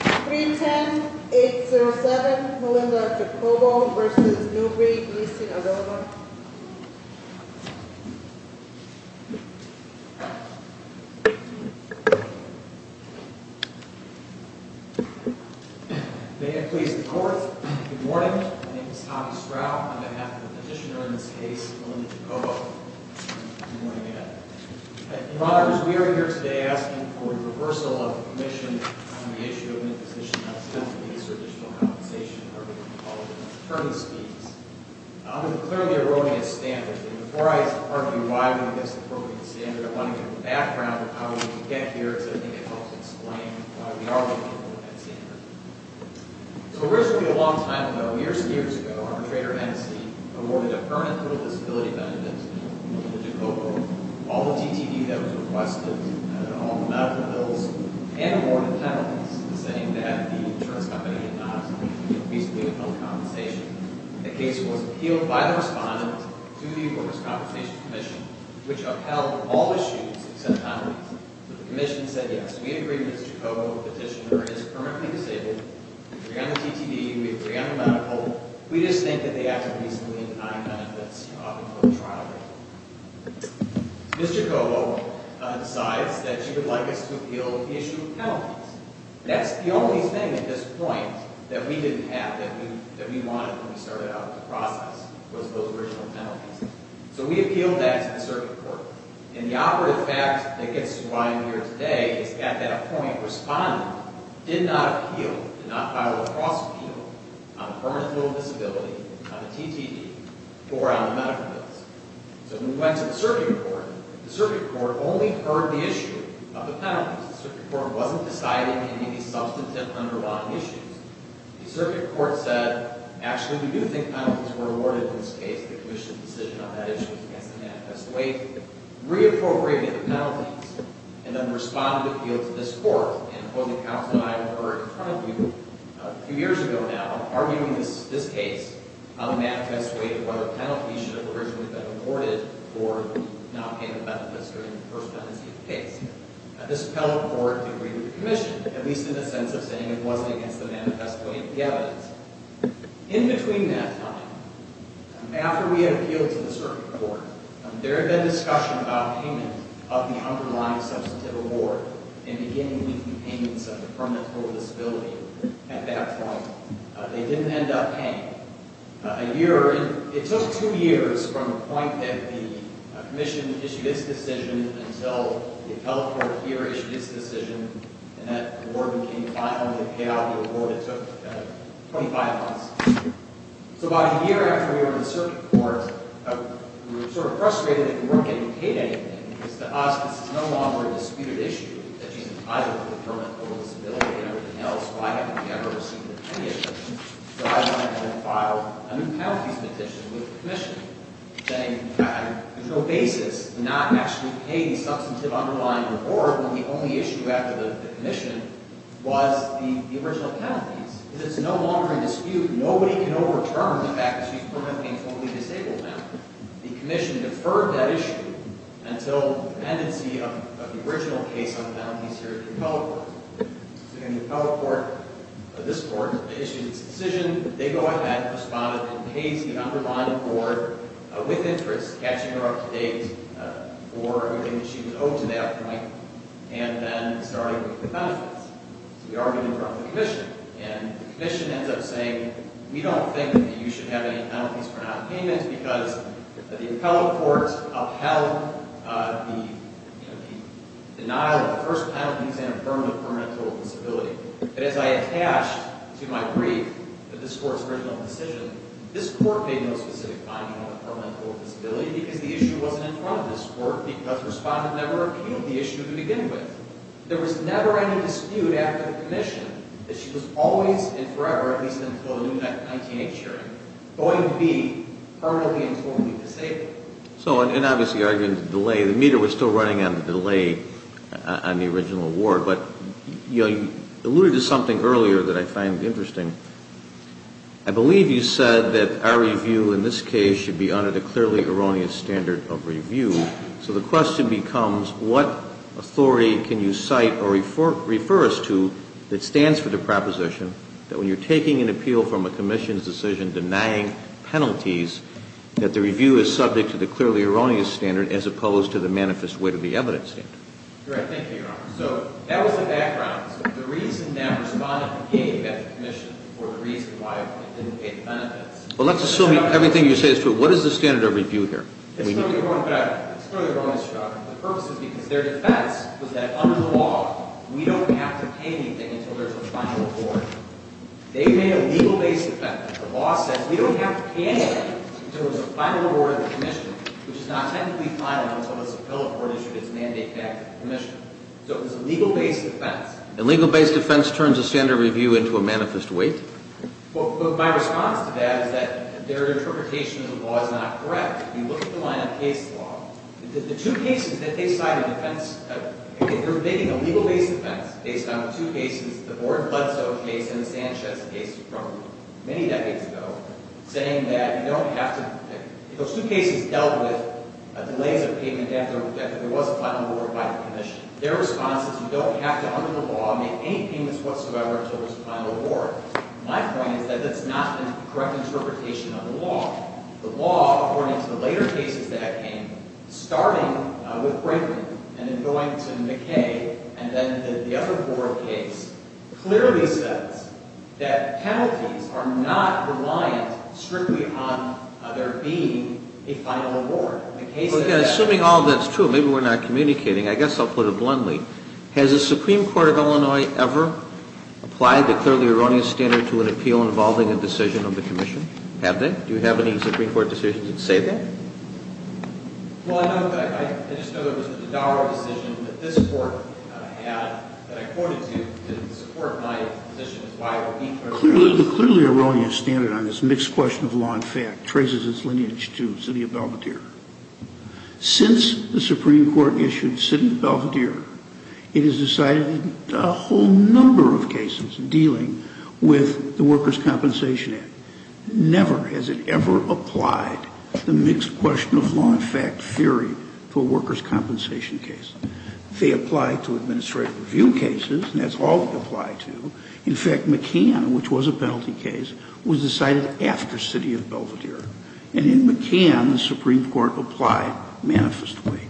310-807 Melinda Jacobo v. Newby v. Sinaloa May it please the Court, good morning, my name is Tommy Stroud, on behalf of the petitioner in this case, Melinda Jacobo. Good morning, Ed. Your Honor, as we are here today asking for a reversal of the commission on the issue of imposition of subsidies for additional compensation, or we can call it an attorney's fees, I'm going to clearly erroneous standards, and before I argue why I think that's an appropriate standard, I want to give a background of how we get here, because I think it helps explain why we are looking for that standard. So originally, a long time ago, years and years ago, our attorney, Ed Esty, awarded a permanent little disability benefit to Melinda Jacobo, all the TTE that was requested, all the medical bills, and awarded penalties, saying that the insurance company did not reasonably upheld compensation. The case was appealed by the respondent to the Workers' Compensation Commission, which upheld all issues except non-reason. The commission said yes, we agree with Mr. Jacobo, the petitioner is permanently disabled, we agree on the TTE, we agree on the medical, we just think that they acted reasonably in denying benefits to the trial. Mr. Jacobo decides that he would like us to appeal the issue of penalties. That's the only thing at this point that we didn't have, that we wanted when we started out the process, was those original penalties. So we appealed that to the circuit court, and the operative fact that gets to the bottom of the year today is that at a point, the respondent did not appeal, did not file a cross-appeal on a permanent little disability, on a TTE, or on the medical bills. So when we went to the circuit court, the circuit court only heard the issue of the penalties. The circuit court wasn't deciding any substantive underlying issues. The circuit court said, actually, we do think penalties were awarded in this case. The commission's decision on that issue was against the manifest weight, reappropriated the penalties, and then responded to appeal to this court, and both the counsel and I were in front of you a few years ago now, arguing this case on the manifest weight of whether penalties should have originally been awarded or not pay the benefits during the first tenancy of the case. This appellate court agreed with the commission, at least in the sense of saying it wasn't against the manifest weight of the evidence. In between that time, after we had appealed to the circuit court, there had been discussion about payment of the underlying substantive award, and beginning with the payments of the permanent little disability at that point. They didn't end up paying. It took two years from the point that the commission issued its decision until the appellate court here issued its decision, and that award became final, and they paid out the award. It took 25 months. So about a year after we were in the circuit court, we were sort of frustrated that we weren't getting paid anything, because to us, this is no longer a disputed issue, that she's entitled to the permanent little disability and everything else, so I haven't ever received a penny of anything. So I haven't actually filed a new penalties petition with the commission, saying there's no basis to not actually pay the substantive underlying reward when the only issue after the commission was the original penalties. It is no longer a dispute. Nobody can overturn the fact that she's permanently and totally disabled now. The commission deferred that issue until the pendency of the original case on penalties here at the appellate court. So then the appellate court, this court, issued its decision. They go ahead, responded, and pays the underlying reward with interest, catching her up to date for everything that she was owed to that point, and then starting with the benefits. So we argued in front of the commission, and the commission ends up saying, we don't think that you should have any penalties for nonpayment, because the appellate court upheld the denial of the first penalty and affirmed the permanent total disability. But as I attached to my brief that this court's original decision, this court made no specific finding on the permanent total disability, because the issue wasn't in front of this court, because the respondent never appealed the issue to begin with. There was never any dispute after the commission that she was always and forever, at least until the new 1908 hearing, going to be permanently and totally disabled. And obviously arguing the delay. The meter was still running on the delay on the original award. But you alluded to something earlier that I find interesting. I believe you said that our review in this case should be under the clearly erroneous standard of review. So the question becomes, what authority can you cite or refer us to that stands for the proposition that when you're taking an appeal from a commission's decision denying penalties, that the review is subject to the clearly erroneous standard as opposed to the manifest way to the evidence standard? Right. Thank you, Your Honor. So that was the background. So the reason that respondent gave at the commission for the reason why it didn't pay the benefits. Well, let's assume everything you say is true. What is the standard of review here? It's clearly erroneous, Your Honor. It's clearly erroneous, Your Honor. The purpose is because their defense was that under the law, we don't have to pay anything until there's a final award. They made a legal-based defense. The law says we don't have to pay anything until there's a final award at the commission, which is not technically final until the Supreme Court issued its mandate back to the commission. So it was a legal-based defense. A legal-based defense turns a standard review into a manifest way? Well, my response to that is that their interpretation of the law is not correct. If you look at the line of case law, the two cases that they cited in defense – they're making a legal-based defense based on the two cases, the Borden-Bledsoe case and the Sanchez case from many decades ago, saying that you don't have to – those two cases dealt with delays of payment after there was a final award by the commission. Their response is you don't have to, under the law, make any payments whatsoever until there's a final award. My point is that that's not a correct interpretation of the law. The law, according to the later cases that came, starting with Brayden and then going to McKay and then the other Borden case, clearly says that penalties are not reliant strictly on there being a final award. Assuming all of that's true, maybe we're not communicating, I guess I'll put it bluntly. Has the Supreme Court of Illinois ever applied the clearly erroneous standard to an appeal involving a decision of the commission? Have they? Do you have any Supreme Court decisions that say that? Well, I know that – I just know that there was a Dodaro decision that this Court had that I quoted to support my position. The clearly erroneous standard on this mixed question of law and fact traces its lineage to Sidney Belvedere. Since the Supreme Court issued Sidney Belvedere, it has decided a whole number of cases dealing with the Workers' Compensation Act. Never has it ever applied the mixed question of law and fact theory to a workers' compensation case. They apply to administrative review cases, and that's all they apply to. In fact, McCann, which was a penalty case, was decided after Sidney of Belvedere. And in McCann, the Supreme Court applied manifest weight.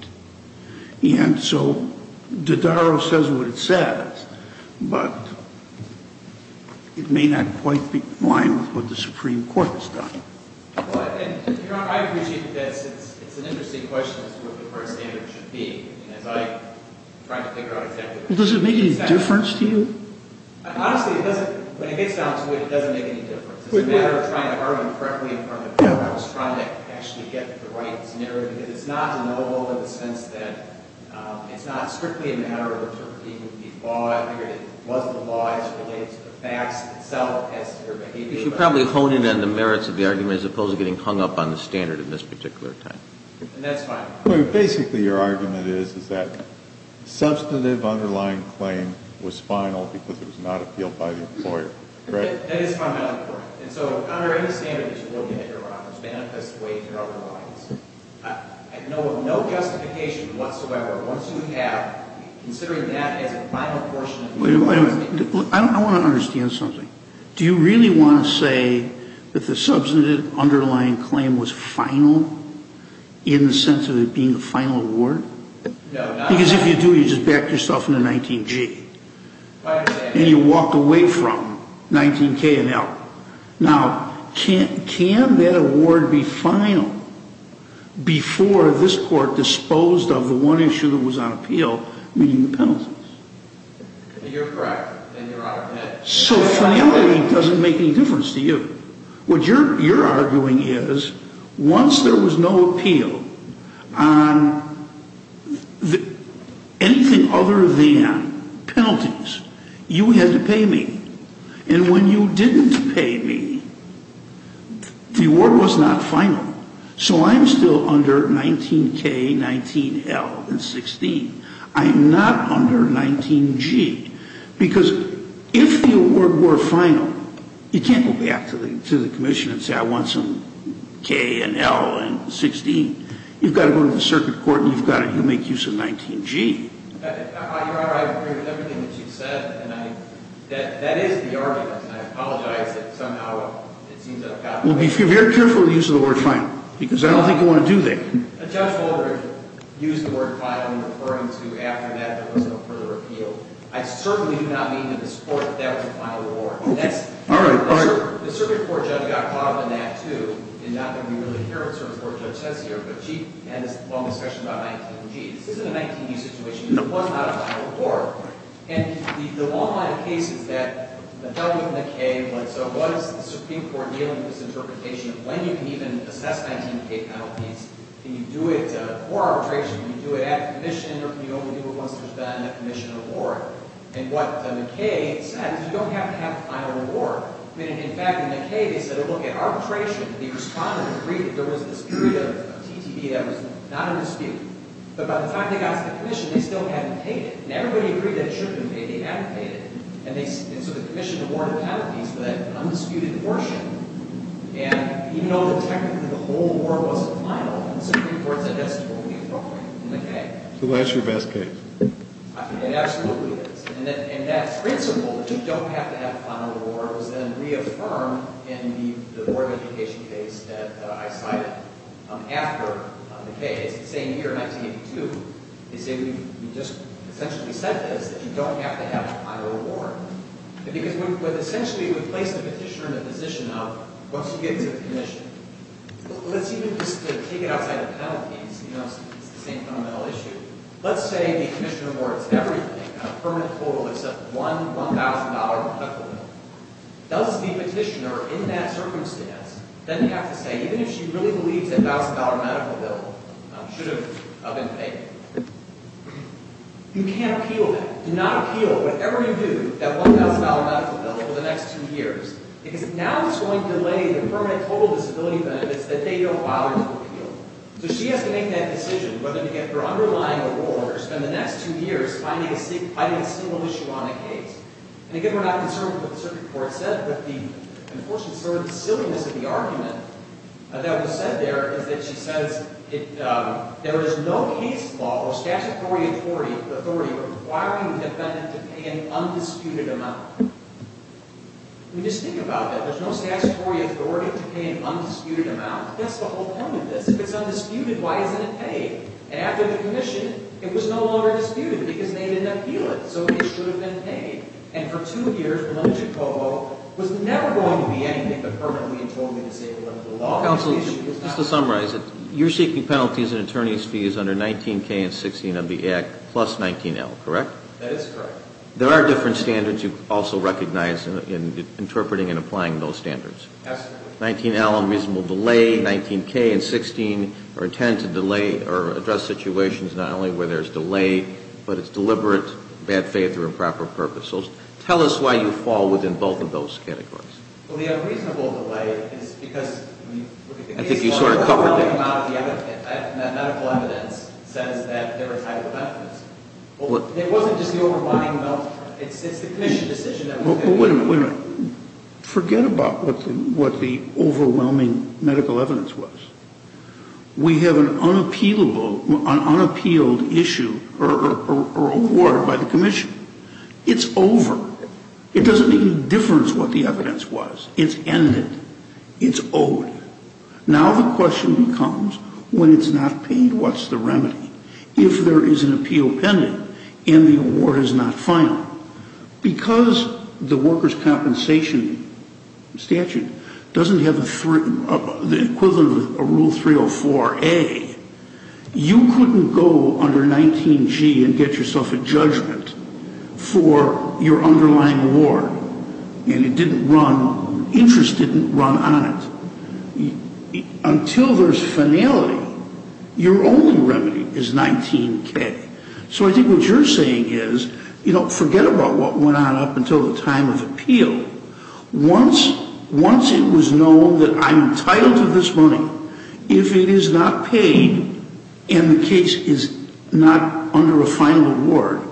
And so Dodaro says what it says, but it may not quite be in line with what the Supreme Court has done. Does it make any difference to you? Honestly, it doesn't. When it gets down to it, it doesn't make any difference. It's a matter of trying to argue correctly in front of the court. I was trying to actually get the right scenario, because it's not a novel in the sense that it's not strictly a matter of interpreting the law. I figured it was the law as related to the facts itself as to their behavior. You should probably hone in on the merits of the argument as opposed to getting hung up on the standard in this particular time. And that's fine. Basically, your argument is that substantive underlying claim was final because it was not appealed by the employer, correct? That is fundamentally correct. And so under any standard that you're looking at, Your Honor, manifest weight or otherwise, I know of no justification whatsoever. Once you have, considering that as a final portion of your investigation. I want to understand something. Do you really want to say that the substantive underlying claim was final in the sense of it being a final award? No. Because if you do, you just back yourself into 19G. And you walk away from 19K and L. Now, can that award be final before this court disposed of the one issue that was on appeal, meaning the penalties? You're correct. So finality doesn't make any difference to you. What you're arguing is once there was no appeal on anything other than penalties, you had to pay me. And when you didn't pay me, the award was not final. So I'm still under 19K, 19L, and 16. I'm not under 19G. Because if the award were final, you can't go back to the commission and say I want some K and L and 16. You've got to go to the circuit court and you've got to make use of 19G. Your Honor, I agree with everything that you've said. And that is the argument. And I apologize if somehow it seems out of place. Well, be very careful of the use of the word final because I don't think you want to do that. Judge Wolbert used the word final in referring to after that there was no further appeal. I certainly do not mean that this court, that was a final award. All right. The circuit court judge got caught up in that, too. And not that we really hear what the circuit court judge says here, but she had this long discussion about 19G. This isn't a 19G situation. It was not a final award. And the long line of cases that held within the K, so what is the Supreme Court dealing with this interpretation of when you can even assess 19K penalties? Can you do it for arbitration? Can you do it at commission? Or can you only do it once there's been a commission award? And what the K said is you don't have to have a final award. I mean, in fact, in the K, they said, oh, look, at arbitration, the respondents agreed that there was this period of TTB that was not in dispute. But by the time they got to the commission, they still hadn't paid it. And everybody agreed that it should have been paid. They hadn't paid it. And so the commission awarded penalties for that undisputed portion. And even though technically the whole award wasn't final, the Supreme Court said that's totally appropriate in the K. So that's your best case. It absolutely is. And that principle, that you don't have to have a final award, was then reaffirmed in the Board of Education case that I cited after the K. It's the same year, 1982. They say we just essentially said this, that you don't have to have a final award. But essentially, we placed the petitioner in a position of once you get to the commission, let's even just take it outside of penalties. It's the same fundamental issue. Let's say the commissioner awards everything, a permanent total except one $1,000 medical bill. Does the petitioner in that circumstance then have to say even if she really believes that $1,000 medical bill should have been paid? You can't appeal that. Do not appeal. Whatever you do, that $1,000 medical bill for the next two years. Because now it's going to delay the permanent total disability benefits that they don't bother to appeal. So she has to make that decision whether to get her underlying award or spend the next two years fighting a single issue on a case. And again, we're not concerned with what the Supreme Court said. But the unfortunate sort of silliness of the argument that was said there is that she says there is no case law or statutory authority requiring a defendant to pay an undisputed amount. I mean, just think about that. There's no statutory authority to pay an undisputed amount. That's the whole point of this. If it's undisputed, why isn't it paid? And after the commission, it was no longer disputed because they didn't appeal it. So it should have been paid. And for two years, Melchikovo was never going to be anything but permanently and totally disabled under the law. Counsel, just to summarize it, you're seeking penalties and attorney's fees under 19K and 16 of the Act plus 19L, correct? That is correct. There are different standards you also recognize in interpreting and applying those standards. Absolutely. 19L, unreasonable delay. 19K and 16 are intended to delay or address situations not only where there's delay, but it's deliberate, bad faith, or improper purpose. So tell us why you fall within both of those categories. Well, the unreasonable delay is because the overwhelming amount of the medical evidence says that there are type of evidence. It wasn't just the overwhelming amount. It's the commission decision. Wait a minute. Forget about what the overwhelming medical evidence was. We have an unappealed issue or award by the commission. It's over. It doesn't make any difference what the evidence was. It's ended. It's over. Now the question becomes when it's not paid, what's the remedy? If there is an appeal pending and the award is not final, because the workers' compensation statute doesn't have the equivalent of a Rule 304A, you couldn't go under 19G and get yourself a judgment for your underlying award. And it didn't run, interest didn't run on it. Until there's finality, your only remedy is 19K. So I think what you're saying is, you know, forget about what went on up until the time of appeal. Once it was known that I'm entitled to this money, if it is not paid and the case is not under a final award,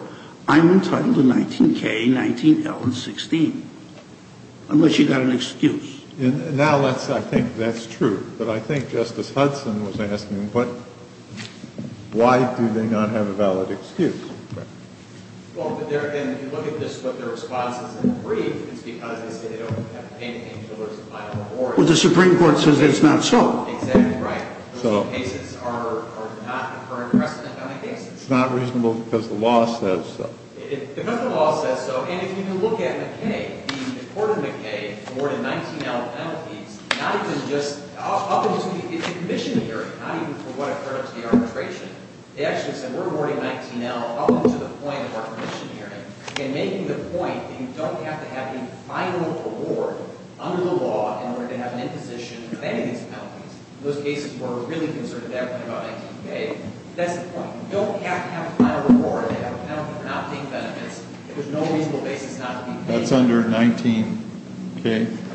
I'm entitled to 19K, 19L, and 16, unless you've got an excuse. Now I think that's true. But I think Justice Hudson was asking, why do they not have a valid excuse? Well, if you look at this, what their response is in the brief, it's because they say they don't have to pay until there's a final award. Well, the Supreme Court says it's not so. Exactly right. Those cases are not the current precedent on the case. It's not reasonable because the law says so. Because the law says so. And if you can look at McKay, the court of McKay awarded 19L penalties, not even just up until the commission hearing, not even for what occurred to the arbitration. They actually said, we're awarding 19L up until the point of our commission hearing. And making the point that you don't have to have a final award under the law in order to have an imposition of any of these penalties. Those cases were really concerned about 19K. That's the point. You don't have to have a final award. They have a penalty for not paying benefits. There's no reasonable basis not to be paid. That's under 19K?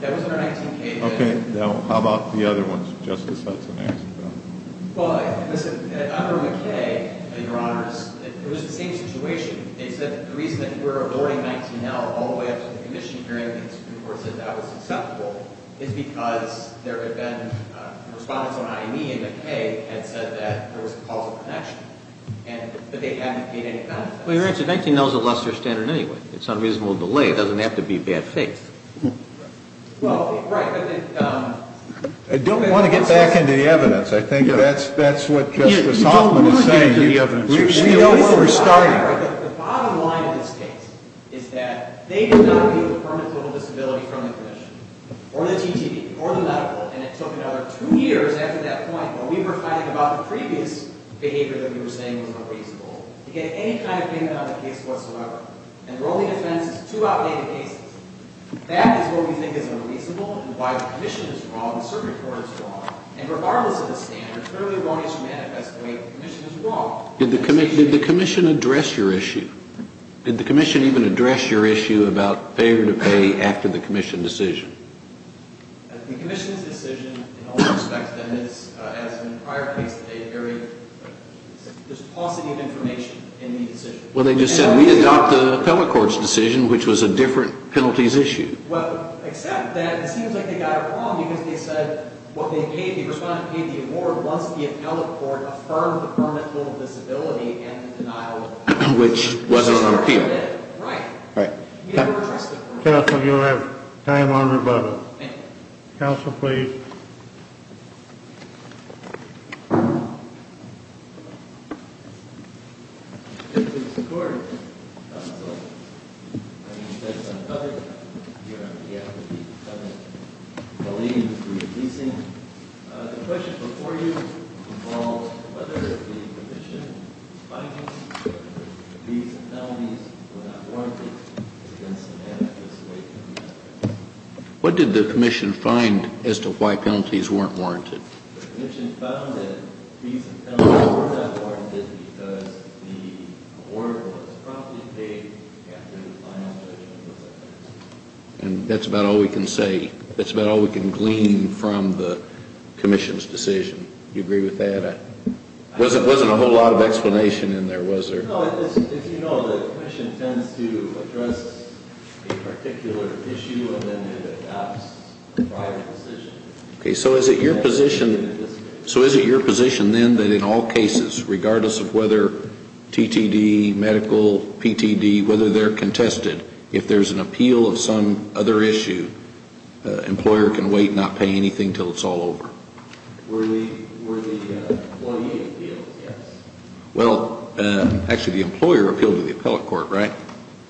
That was under 19K. Okay. Now how about the other ones, Justice Hudson asked about? Well, under McKay, Your Honor, it was the same situation. They said the reason that we're awarding 19L all the way up to the commission hearing, the Supreme Court said that was acceptable, is because there had been respondents on IME and McKay had said that there was a causal connection. And that they hadn't paid any benefits. Well, Your Honor, 19L is a lesser standard anyway. It's unreasonable delay. It doesn't have to be bad faith. Well, right. I don't want to get back into the evidence. I think that's what Justice Hoffman is saying. You don't want to get into the evidence. We know where we're starting. The bottom line of this case is that they did not view the permanent liberal disability from the commission or the TTP or the medical. And it took another two years after that point where we were fighting about the previous behavior that we were saying was unreasonable to get any kind of payment on the case whatsoever. And we're only defense is two outdated cases. That is what we think is unreasonable and why the commission is wrong and the Supreme Court is wrong. And regardless of the standard, clearly one issue manifests the way the commission is wrong. Did the commission address your issue? Did the commission even address your issue about favor to pay after the commission decision? The commission's decision in all respects, as in the prior case today, varied. Well, they just said we adopt the appellate court's decision, which was a different penalties issue. Well, except that it seems like they got it wrong because they said what they paid, the respondent paid the award once the appellate court affirmed the permanent liberal disability and the denial of penalty. Which wasn't an appeal. Right. Counsel, you'll have time on rebuttal. Counsel, please. Thank you, Mr. Court. Counsel, I'm going to spend some time here on behalf of the appellate colleague for your policing. The question before you involves whether the commission finds that the fees and penalties were not warranted against the man who was away from you. What did the commission find as to why penalties weren't warranted? The commission found that fees and penalties were not warranted because the award was promptly paid after the client's decision was affirmed. And that's about all we can say. That's about all we can glean from the commission's decision. Do you agree with that? There wasn't a whole lot of explanation in there, was there? No, as you know, the commission tends to address a particular issue and then it adopts a private decision. Okay. So is it your position then that in all cases, regardless of whether TTD, medical, PTD, whether they're contested, if there's an appeal of some other issue, the employer can wait and not pay anything until it's all over? Were the employee appealed, yes. Well, actually, the employer appealed to the appellate court, right?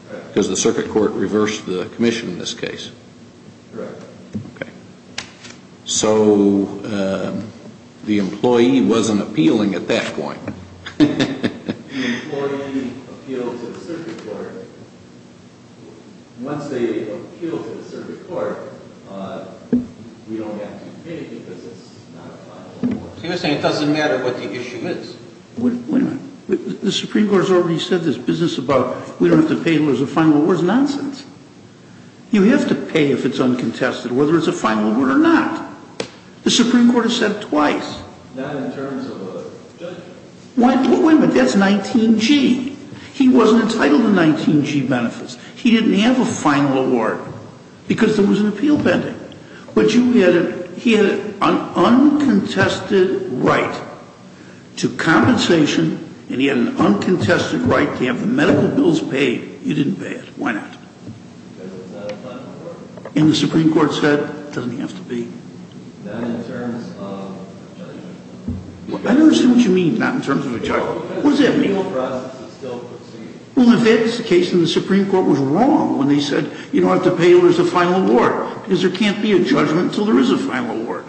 Correct. Because the circuit court reversed the commission in this case. Correct. Okay. So the employee wasn't appealing at that point. The employee appealed to the circuit court. Once they appealed to the circuit court, we don't have to pay because it's not a final award. He was saying it doesn't matter what the issue is. Wait a minute. The Supreme Court has already said this business about we don't have to pay until there's a final award is nonsense. You have to pay if it's uncontested, whether it's a final award or not. The Supreme Court has said it twice. Not in terms of a judgment. Wait a minute. That's 19G. He wasn't entitled to 19G benefits. He didn't have a final award because there was an appeal pending. But he had an uncontested right to compensation and he had an uncontested right to have the medical bills paid. You didn't pay it. Why not? Because it's not a final award. And the Supreme Court said it doesn't have to be. Not in terms of a judgment. I don't understand what you mean, not in terms of a judgment. Because the legal process is still proceeding. Well, if that's the case, then the Supreme Court was wrong when they said you don't have to pay until there's a final award. Because there can't be a judgment until there is a final award.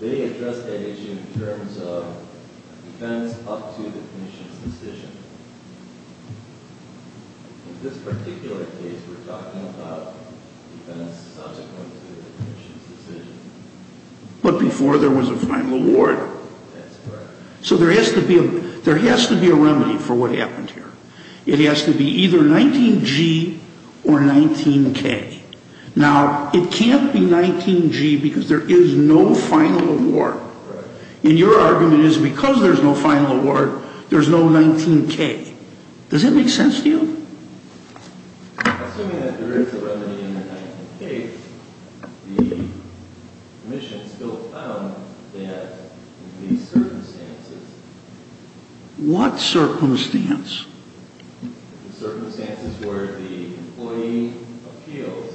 They addressed that issue in terms of defense up to the clinician's decision. In this particular case, we're talking about defense subsequent to the clinician's decision. But before there was a final award. That's correct. So there has to be a remedy for what happened here. It has to be either 19G or 19K. Now, it can't be 19G because there is no final award. Correct. And your argument is because there's no final award, there's no 19K. Does that make sense to you? Assuming that there is a remedy in the 19K, the commission still found that in these circumstances. What circumstance? Circumstances where the employee appeals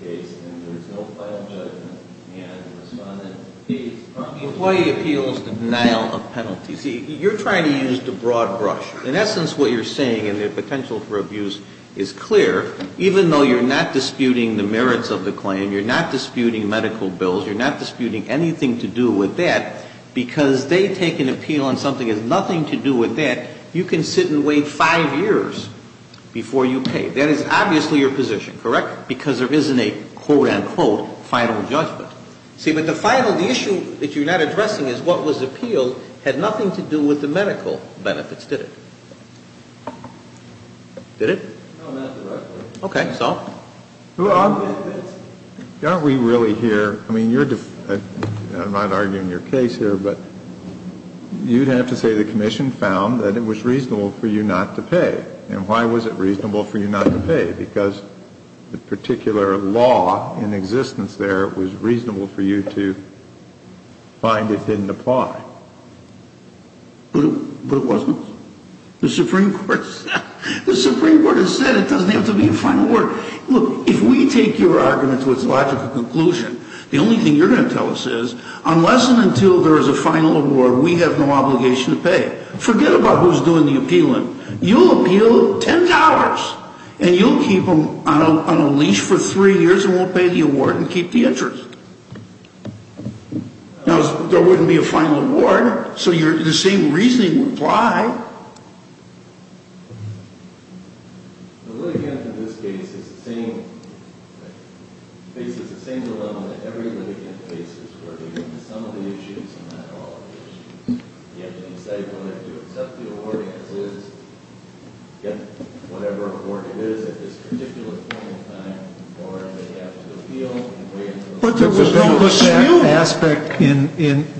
the case and there's no final judgment and the respondent appeals. The employee appeals the denial of penalty. See, you're trying to use the broad brush. In essence, what you're saying in the potential for abuse is clear. Even though you're not disputing the merits of the claim, you're not disputing medical bills, you're not disputing anything to do with that. Because they take an appeal and something has nothing to do with that, you can sit and wait five years before you pay. That is obviously your position, correct? Because there isn't a, quote, unquote, final judgment. See, but the final, the issue that you're not addressing is what was appealed had nothing to do with the medical benefits, did it? Did it? No, not directly. Okay, so? Aren't we really here? I mean, I'm not arguing your case here, but you'd have to say the commission found that it was reasonable for you not to pay. And why was it reasonable for you not to pay? Because the particular law in existence there was reasonable for you to find it didn't apply. But it wasn't. The Supreme Court has said it doesn't have to be a final word. Look, if we take your argument to its logical conclusion, the only thing you're going to tell us is, unless and until there is a final award, we have no obligation to pay. Forget about who's doing the appealing. You'll appeal $10, and you'll keep them on a leash for three years and won't pay the award and keep the interest. Now, there wouldn't be a final award, so the same reasoning would apply. The litigant in this case is the same, faces the same dilemma that every litigant faces, where they get into some of the issues and not all of the issues. You have to decide whether to accept the award as is, get whatever award it is at this particular point in time, or they have to appeal and wait until the court is over.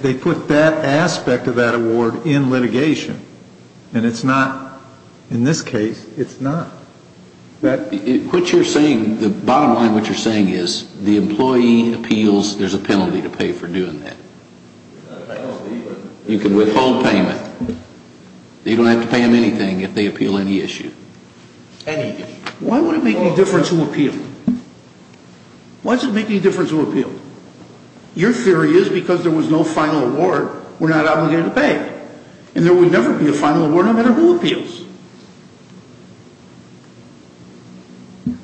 They put that aspect of that award in litigation. And it's not, in this case, it's not. The bottom line of what you're saying is the employee appeals, there's a penalty to pay for doing that. You can withhold payment. You don't have to pay them anything if they appeal any issue. Why would it make any difference who appealed? Why does it make any difference who appealed? Your theory is because there was no final award, we're not obligated to pay. And there would never be a final award, no matter who appeals.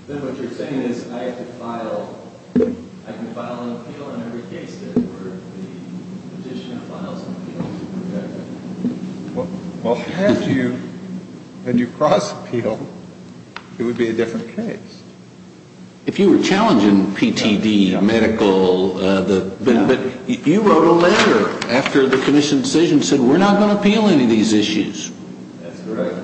Then what you're saying is I have to file, I can file an appeal on every case that the petitioner files an appeal to? Well, had you, had you cross-appealed, it would be a different case. If you were challenging PTD medical, but you wrote a letter after the commission's decision, said we're not going to appeal any of these issues. That's correct.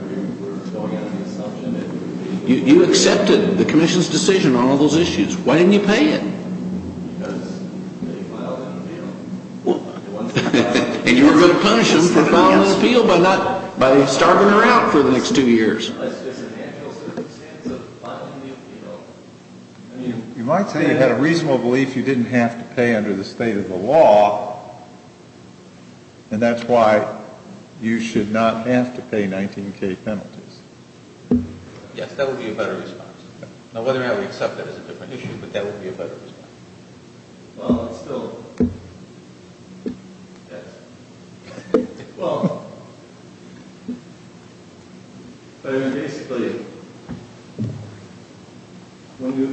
You accepted the commission's decision on all those issues. Why didn't you pay it? Because they filed an appeal. And you were going to punish them for filing an appeal by not, by starving her out for the next two years. You might say you had a reasonable belief you didn't have to pay under the state of the law, and that's why you should not have to pay 19K penalties. Yes, that would be a better response. Now, whether or not we accept that is a different issue, but that would be a better response. Well, it's still, yes. Well, but I mean, basically, when you,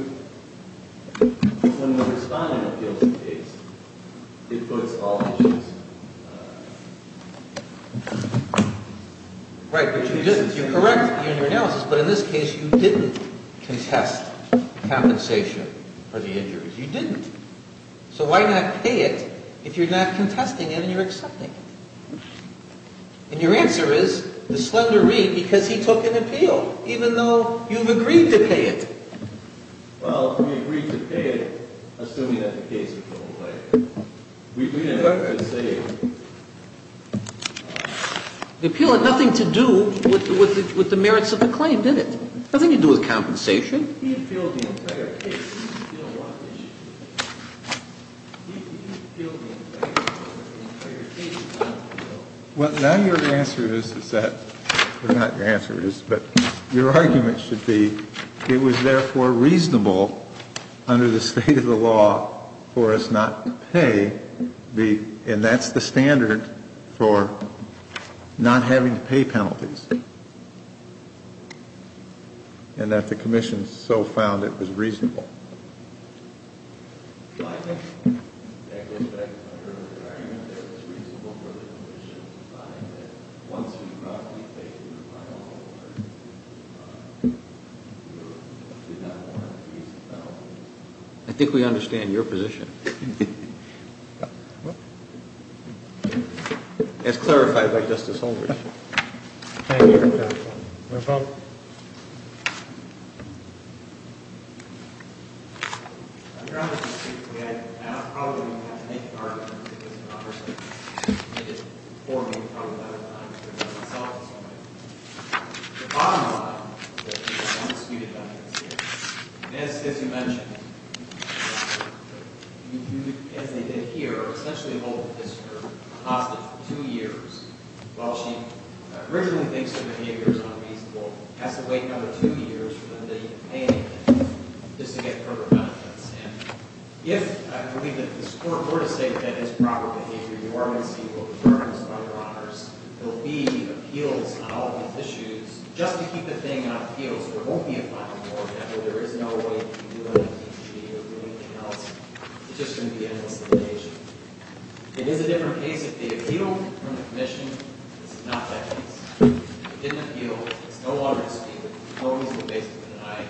when you respond to an appeals case, it puts all the issues. Right, but you didn't. You correct the injury analysis, but in this case, you didn't contest compensation for the injuries. You didn't. So why not pay it if you're not contesting it and you're accepting it? And your answer is the slender reed because he took an appeal, even though you've agreed to pay it. Well, we agreed to pay it, assuming that the case would go away. We didn't have to say it. The appeal had nothing to do with the merits of the claim, did it? Nothing to do with compensation. He appealed the entire case. He appealed the entire case. Well, now your answer is that, well, not your answer is, but your argument should be, it was therefore reasonable under the state of the law for us not to pay, and that's the standard for not having to pay penalties, and that the commission so found it was reasonable. Well, I think, in that respect, under the environment there, it was reasonable for the commission to find that once we brought the case to the final court, we did not want to pay the penalty. I think we understand your position. As clarified by Justice Holder. Thank you, Your Honor. No problem. Your Honor, I probably wouldn't have to make an argument if it wasn't about herself. The bottom line is, as you mentioned, as they did here, essentially Holder is her hostage for two years. While she originally thinks her behavior is unreasonable, has to wait another two years for them to complain against her just to get further benefits. And if, I believe that this Court were to say that that is proper behavior, you are going to see what concerns other honors. There will be appeals on all of the issues. Just to keep the thing on appeals, there won't be a final court after there is no way to do anything to she or do anything else. It's just going to be endless litigation. It is a different case if the appeal from the commission is not that case. If it didn't appeal, it's no longer this case. Holder is basically denied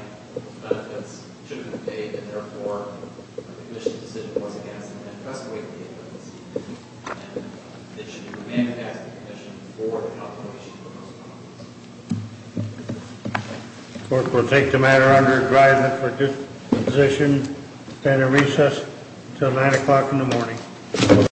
benefits, should have been paid, and therefore the commission's decision was against it. And trust me, it doesn't seem to be. And it should be remanded back to the commission for the outcome of the issue. The Court will take the matter under adjudication for disposition and a recess until 9 o'clock in the morning.